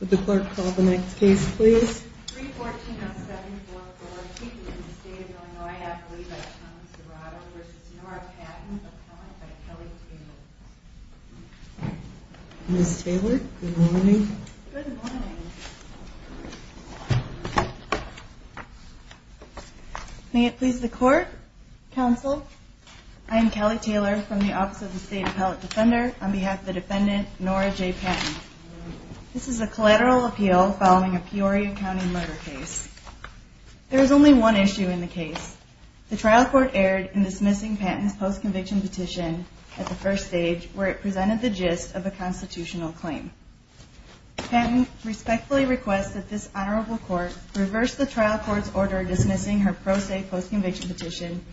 Would the clerk call the next case please? 314-0744, Kiki in the State of Illinois, Appellee by Thomas Dorado v. Norah Patton, Appellant by Kelly Taylor Ms. Taylor, good morning. Good morning. May it please the Court, Counsel? I am Kelly Taylor from the Office of the State Appellate Defender on behalf of the defendant, Norah J. Patton. This is a collateral appeal following a Peoria County murder case. There is only one issue in the case. The trial court erred in dismissing Patton's post-conviction petition at the first stage where it presented the gist of a constitutional claim. Patton respectfully requests that this Honorable Court reverse the trial court's order dismissing her pro se post-conviction petition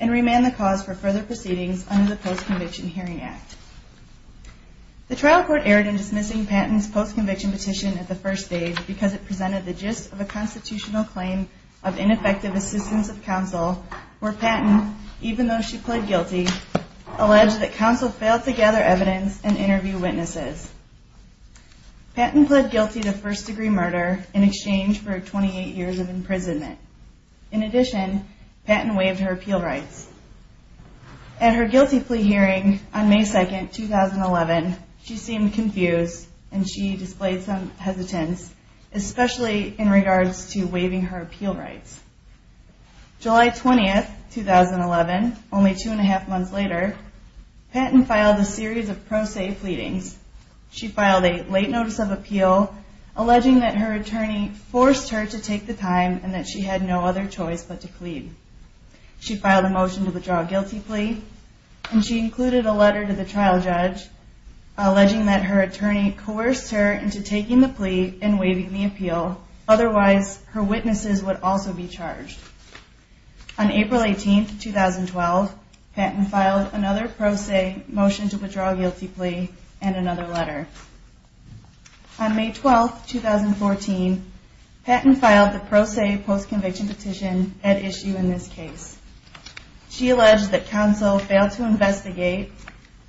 and remand the cause for further proceedings under the Post-Conviction Hearing Act. The trial court erred in dismissing Patton's post-conviction petition at the first stage because it presented the gist of a constitutional claim of ineffective assistance of counsel where Patton, even though she pled guilty, alleged that counsel failed to gather evidence and interview witnesses. Patton pled guilty to first degree murder in exchange for 28 years of imprisonment. In addition, Patton waived her appeal rights. At her guilty plea hearing on May 2, 2011, she seemed confused and she displayed some hesitance, especially in regards to waiving her appeal rights. July 20, 2011, only two and a half months later, Patton filed a series of pro se pleadings. She filed a late notice of appeal alleging that her attorney forced her to take the time and that she had no other choice but to plead. She filed a motion to withdraw a guilty plea and she included a letter to the trial judge alleging that her attorney coerced her into taking the plea and waiving the appeal. Otherwise, her witnesses would also be charged. On April 18, 2012, Patton filed another pro se motion to withdraw a guilty plea and another letter. On May 12, 2014, Patton filed the pro se post conviction petition at issue in this case. She alleged that counsel failed to investigate.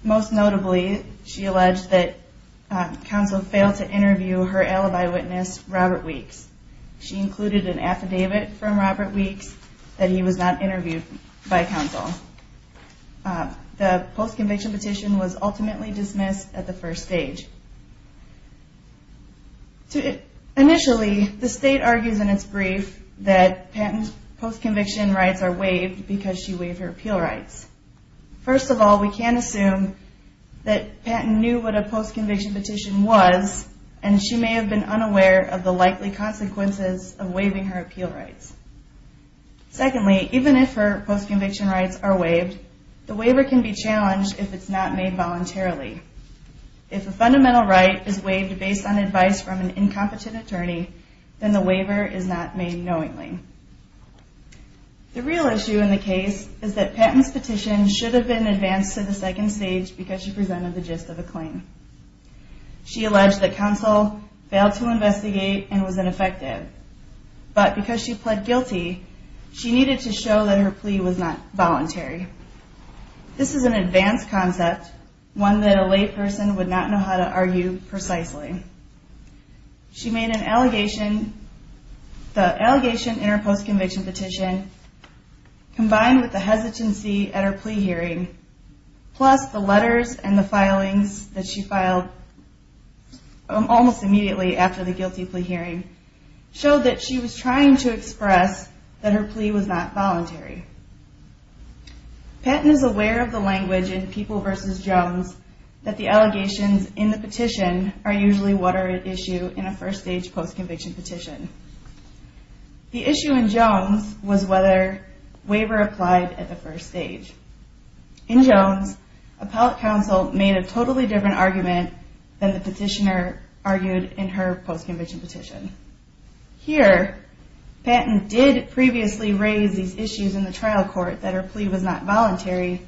Most notably, she alleged that counsel failed to interview her alibi witness, Robert Weeks. She included an affidavit from Robert Weeks that he was not interviewed by counsel. The post conviction petition was ultimately dismissed at the first stage. Initially, the state argues in its brief that Patton's post conviction rights are waived because she waived her appeal rights. First of all, we can assume that Patton knew what a post conviction petition was and she may have been unaware of the likely consequences of waiving her appeal rights. Secondly, even if her post conviction rights are waived, the waiver can be challenged if it's not made voluntarily. If a fundamental right is waived based on advice from an incompetent attorney, then the waiver is not made knowingly. The real issue in the case is that Patton's petition should have been advanced to the second stage because she presented the gist of the claim. She alleged that counsel failed to investigate and was ineffective. But because she pled guilty, she needed to show that her plea was not voluntary. This is an advanced concept, one that a lay person would not know how to argue precisely. She made an allegation, the allegation in her post conviction petition combined with the hesitancy at her plea hearing, plus the letters and the filings that she filed almost immediately after the guilty plea hearing, showed that she was trying to express that her plea was not voluntary. Patton is aware of the language in People v. Jones that the allegations in the petition are usually what are at issue in a first stage post conviction petition. The issue in Jones was whether waiver applied at the first stage. In Jones, appellate counsel made a totally different argument than the petitioner argued in her post conviction petition. Here, Patton did previously raise these issues in the trial court that her plea was not voluntary,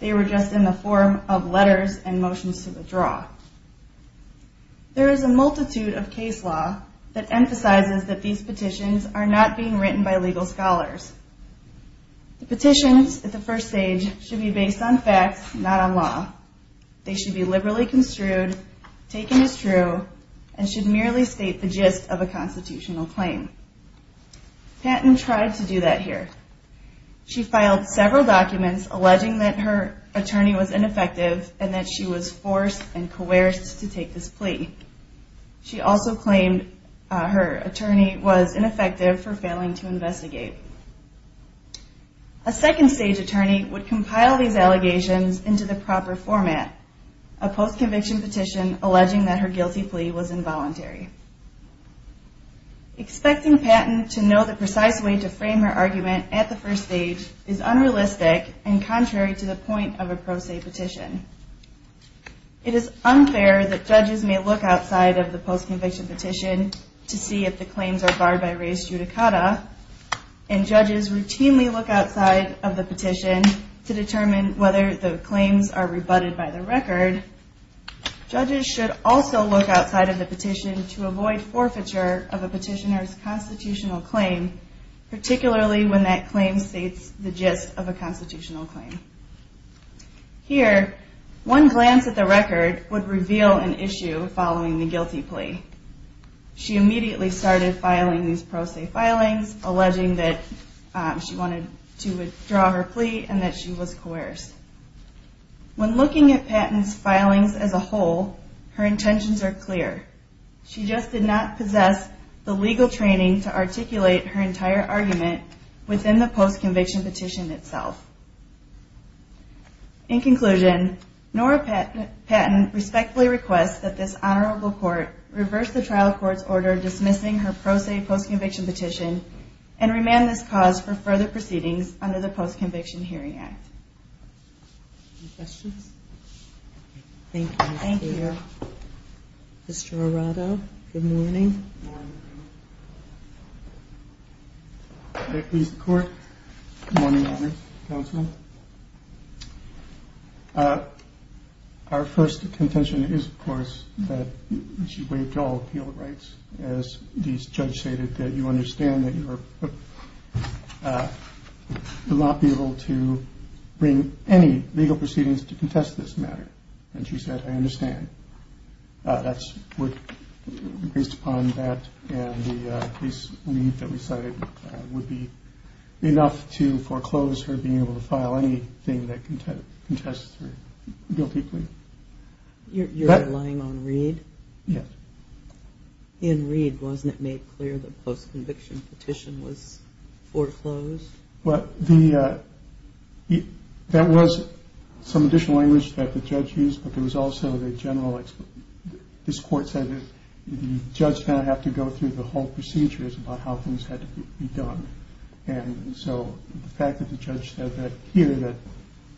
they were just in the form of letters and motions to withdraw. There is a multitude of case law that emphasizes that these petitions are not being written by legal scholars. The petitions at the first stage should be based on facts, not on law. They should be liberally construed, taken as true, and should merely state the gist of a constitutional claim. Patton tried to do that here. She filed several documents alleging that her attorney was ineffective and that she was forced and coerced to take this plea. She also claimed her attorney was ineffective for failing to investigate. A second stage attorney would compile these allegations into the proper format, a post conviction petition alleging that her guilty plea was involuntary. Expecting Patton to know the precise way to frame her argument at the first stage is unrealistic and contrary to the point of a pro se petition. It is unfair that judges may look outside of the post conviction petition to see if the claims are barred by res judicata, and judges routinely look outside of the petition to determine whether the claims are rebutted by the record. Judges should also look outside of the petition to avoid forfeiture of a petitioner's constitutional claim, particularly when that claim states the gist of a constitutional claim. Here, one glance at the record would reveal an issue following the guilty plea. She immediately started filing these pro se filings, alleging that she wanted to withdraw her plea and that she was coerced. When looking at Patton's filings as a whole, her intentions are clear. She just did not possess the legal training to articulate her entire argument within the post conviction petition itself. In conclusion, Nora Patton respectfully requests that this honorable court reverse the trial court's order dismissing her pro se post conviction petition and remand this cause for further proceedings under the Post Conviction Hearing Act. Any questions? Thank you. Mr. Arado, good morning. Good morning, Honorary Counsel. Our first contention is, of course, that she waived all appeal rights. As this judge stated that you understand that you are not be able to bring any legal proceedings to contest this matter. And she said, I understand. That's based upon that. And the case that we cited would be enough to foreclose her being able to file anything that contest guilty plea. You're relying on Reed? In Reed, wasn't it made clear the post conviction petition was foreclosed? That was some additional language that the judge used, but there was also the general explanation. This court said that the judge did not have to go through the whole procedures about how things had to be done. And so the fact that the judge said that here that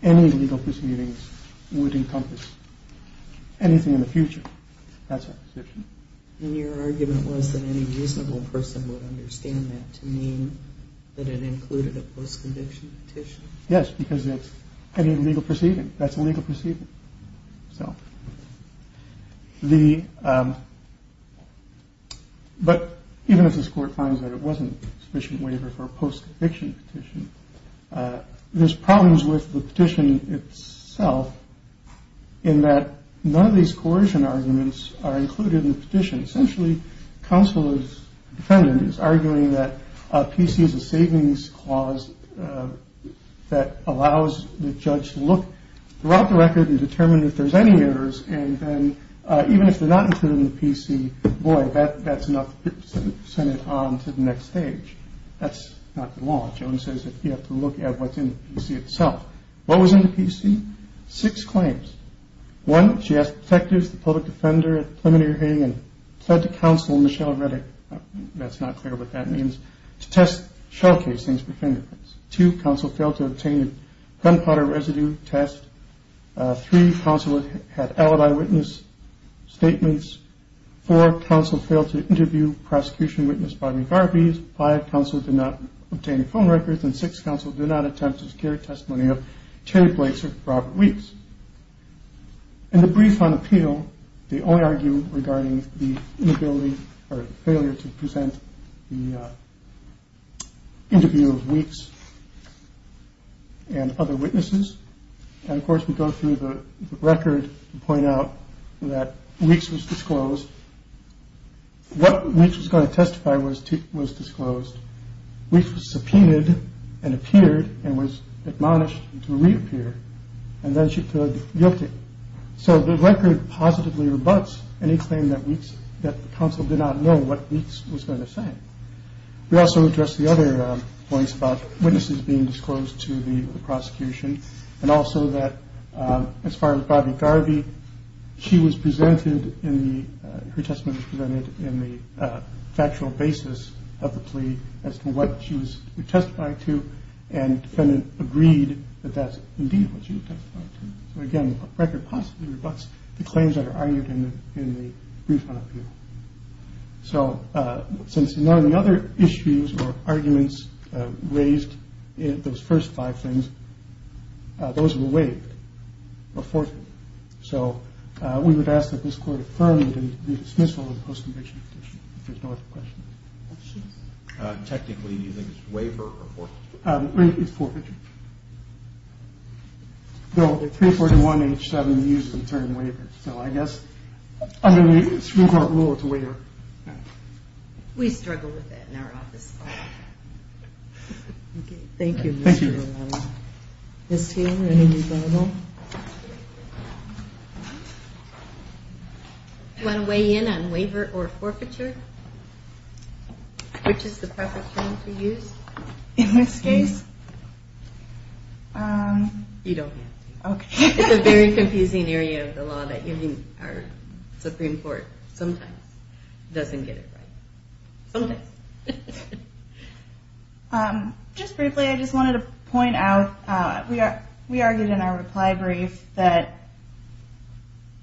any legal proceedings would encompass anything in the future. That's your argument was that any reasonable person would understand that to mean that it included a post conviction petition. Yes, because it's a legal proceeding. That's a legal proceeding. So the. But even if this court finds that it wasn't sufficient waiver for a post conviction petition, there's problems with the petition itself in that none of these coercion arguments are included in the petition. Essentially, counsel is defendants arguing that a PC is a savings clause that allows the judge to look throughout the record and determine if there's any errors. And then even if they're not included in the PC, boy, that's enough. Send it on to the next stage. That's not the law. Jones says that you have to look at what's in the PC itself. What was in the PC? Six claims. One, she asked detectives, the public defender, preliminary hearing and said to counsel Michelle Redick. That's not clear what that means. To test showcasings for fingerprints to counsel, failed to obtain gunpowder residue test. Three counselors had alibi witness statements for counsel, failed to interview prosecution witness. Five counsel did not obtain a phone records and six counsel did not attempt to secure testimony of Terry Blazer, Robert Weeks. And the brief on appeal, they only argue regarding the inability or failure to present the interview weeks. And other witnesses. And of course, we go through the record, point out that weeks was disclosed. What which is going to testify was to was disclosed, which was subpoenaed and appeared and was admonished to reappear. And then she took guilty. So the record positively rebuts any claim that weeks that the council did not know what weeks was going to say. We also address the other points about witnesses being disclosed to the prosecution and also that as far as Bobby Garvey, she was presented in the her testimony presented in the factual basis of the plea as to what she was testifying to. And the defendant agreed that that's what she was. So, again, a record possibly rebuts the claims that are argued in the in the brief. So since none of the other issues or arguments raised in those first five things, those were waived. So we would ask that this court affirmed the dismissal of the post-conviction petition. There's no question. Technically, you think it's waiver or forfeiture? It's forfeiture. Bill 341 H7 uses the term waiver. So I guess under the Supreme Court rule, it's waiver. We struggle with that in our office. Thank you. Thank you. You want to weigh in on waiver or forfeiture? Which is the proper term to use in this case? You don't have to. It's a very confusing area of the law that even our Supreme Court sometimes doesn't get it right. Okay. Just briefly, I just wanted to point out, we argued in our reply brief that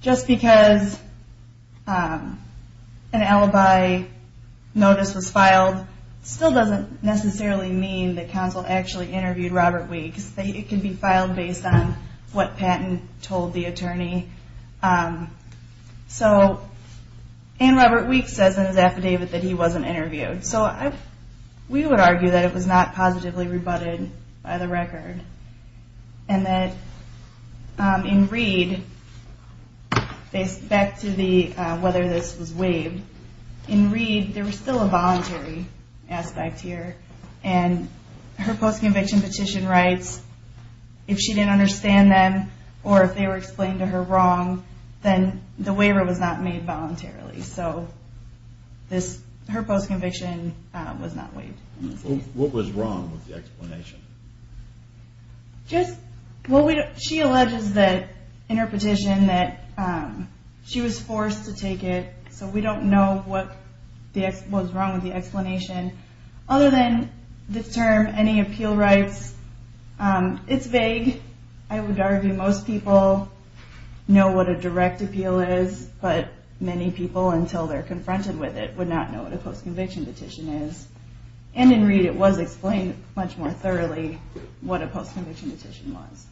just because an alibi notice was filed still doesn't necessarily mean that counsel actually interviewed Robert Weeks. It can be filed based on what Patton told the attorney. So Ann Robert Weeks says in his affidavit that he wasn't interviewed. So we would argue that it was not positively rebutted by the record. And that in Reed, back to whether this was waived, in Reed there was still a voluntary aspect here. And her post-conviction petition writes, if she didn't understand them or if they were explained to her wrong, then the waiver was not made voluntarily. So her post-conviction was not waived. What was wrong with the explanation? She alleges that in her petition that she was forced to take it, so we don't know what was wrong with the explanation. Other than the term, any appeal rights, it's vague. I would argue most people know what a direct appeal is, but many people, until they're confronted with it, would not know what a post-conviction petition is. And in Reed it was explained much more thoroughly what a post-conviction petition was.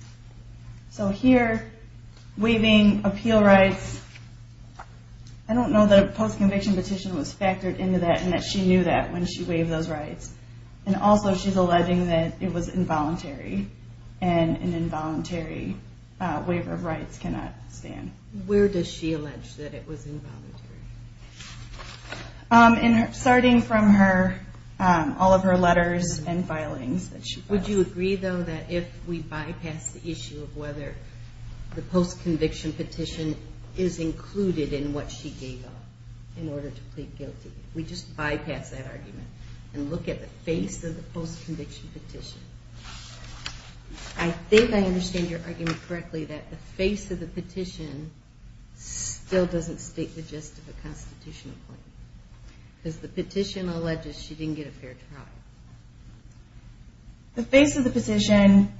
So here, waiving appeal rights, I don't know that a post-conviction petition was factored into that and that she knew that when she waived those rights. And also she's alleging that it was involuntary and an involuntary waiver of rights cannot stand. Where does she allege that it was involuntary? Starting from all of her letters and filings. Would you agree, though, that if we bypass the issue of whether the post-conviction petition is included in what she gave up in order to plead guilty, we just bypass that argument and look at the face of the post-conviction petition? I think I understand your argument correctly that the face of the petition still doesn't state the gist of a constitutional claim. Because the petition alleges she didn't get a fair trial. The face of the petition,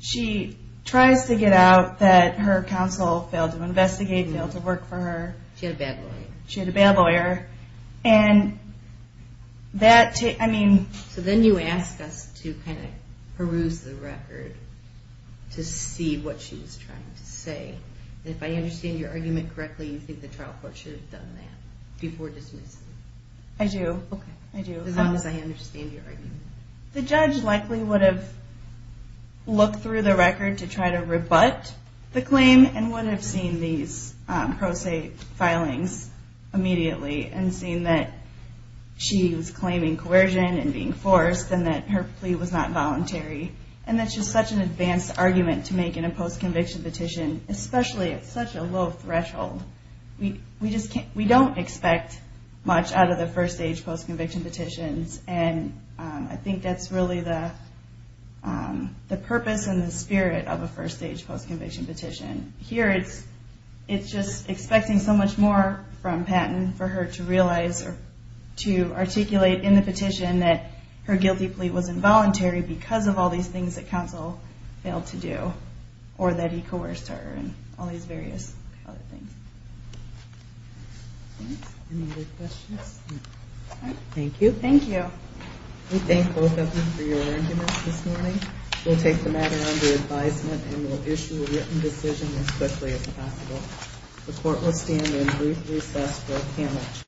she tries to get out that her counsel failed to investigate, failed to work for her. She had a bail lawyer. She had a bail lawyer. So then you ask us to kind of peruse the record to see what she was trying to say. And if I understand your argument correctly, you think the trial court should have done that before dismissing it. I do. As long as I understand your argument. The judge likely would have looked through the record to try to rebut the claim and would have seen these pro se filings immediately and seen that she was claiming coercion and being forced and that her plea was not voluntary and that she's such an advanced argument to make in a post-conviction petition, especially at such a low threshold. We don't expect much out of the first stage post-conviction petitions. And I think that's really the purpose and the spirit of a first stage post-conviction petition. Here it's just expecting so much more from Patton for her to realize or to articulate in the petition that her guilty plea was involuntary because of all these things that counsel failed to do or that he coerced her and all these various other things. Any other questions? Thank you. Thank you. We thank both of you for your arrangements this morning. We'll take the matter under advisement and we'll issue a written decision as quickly as possible. The court will stand in brief recess for a panel.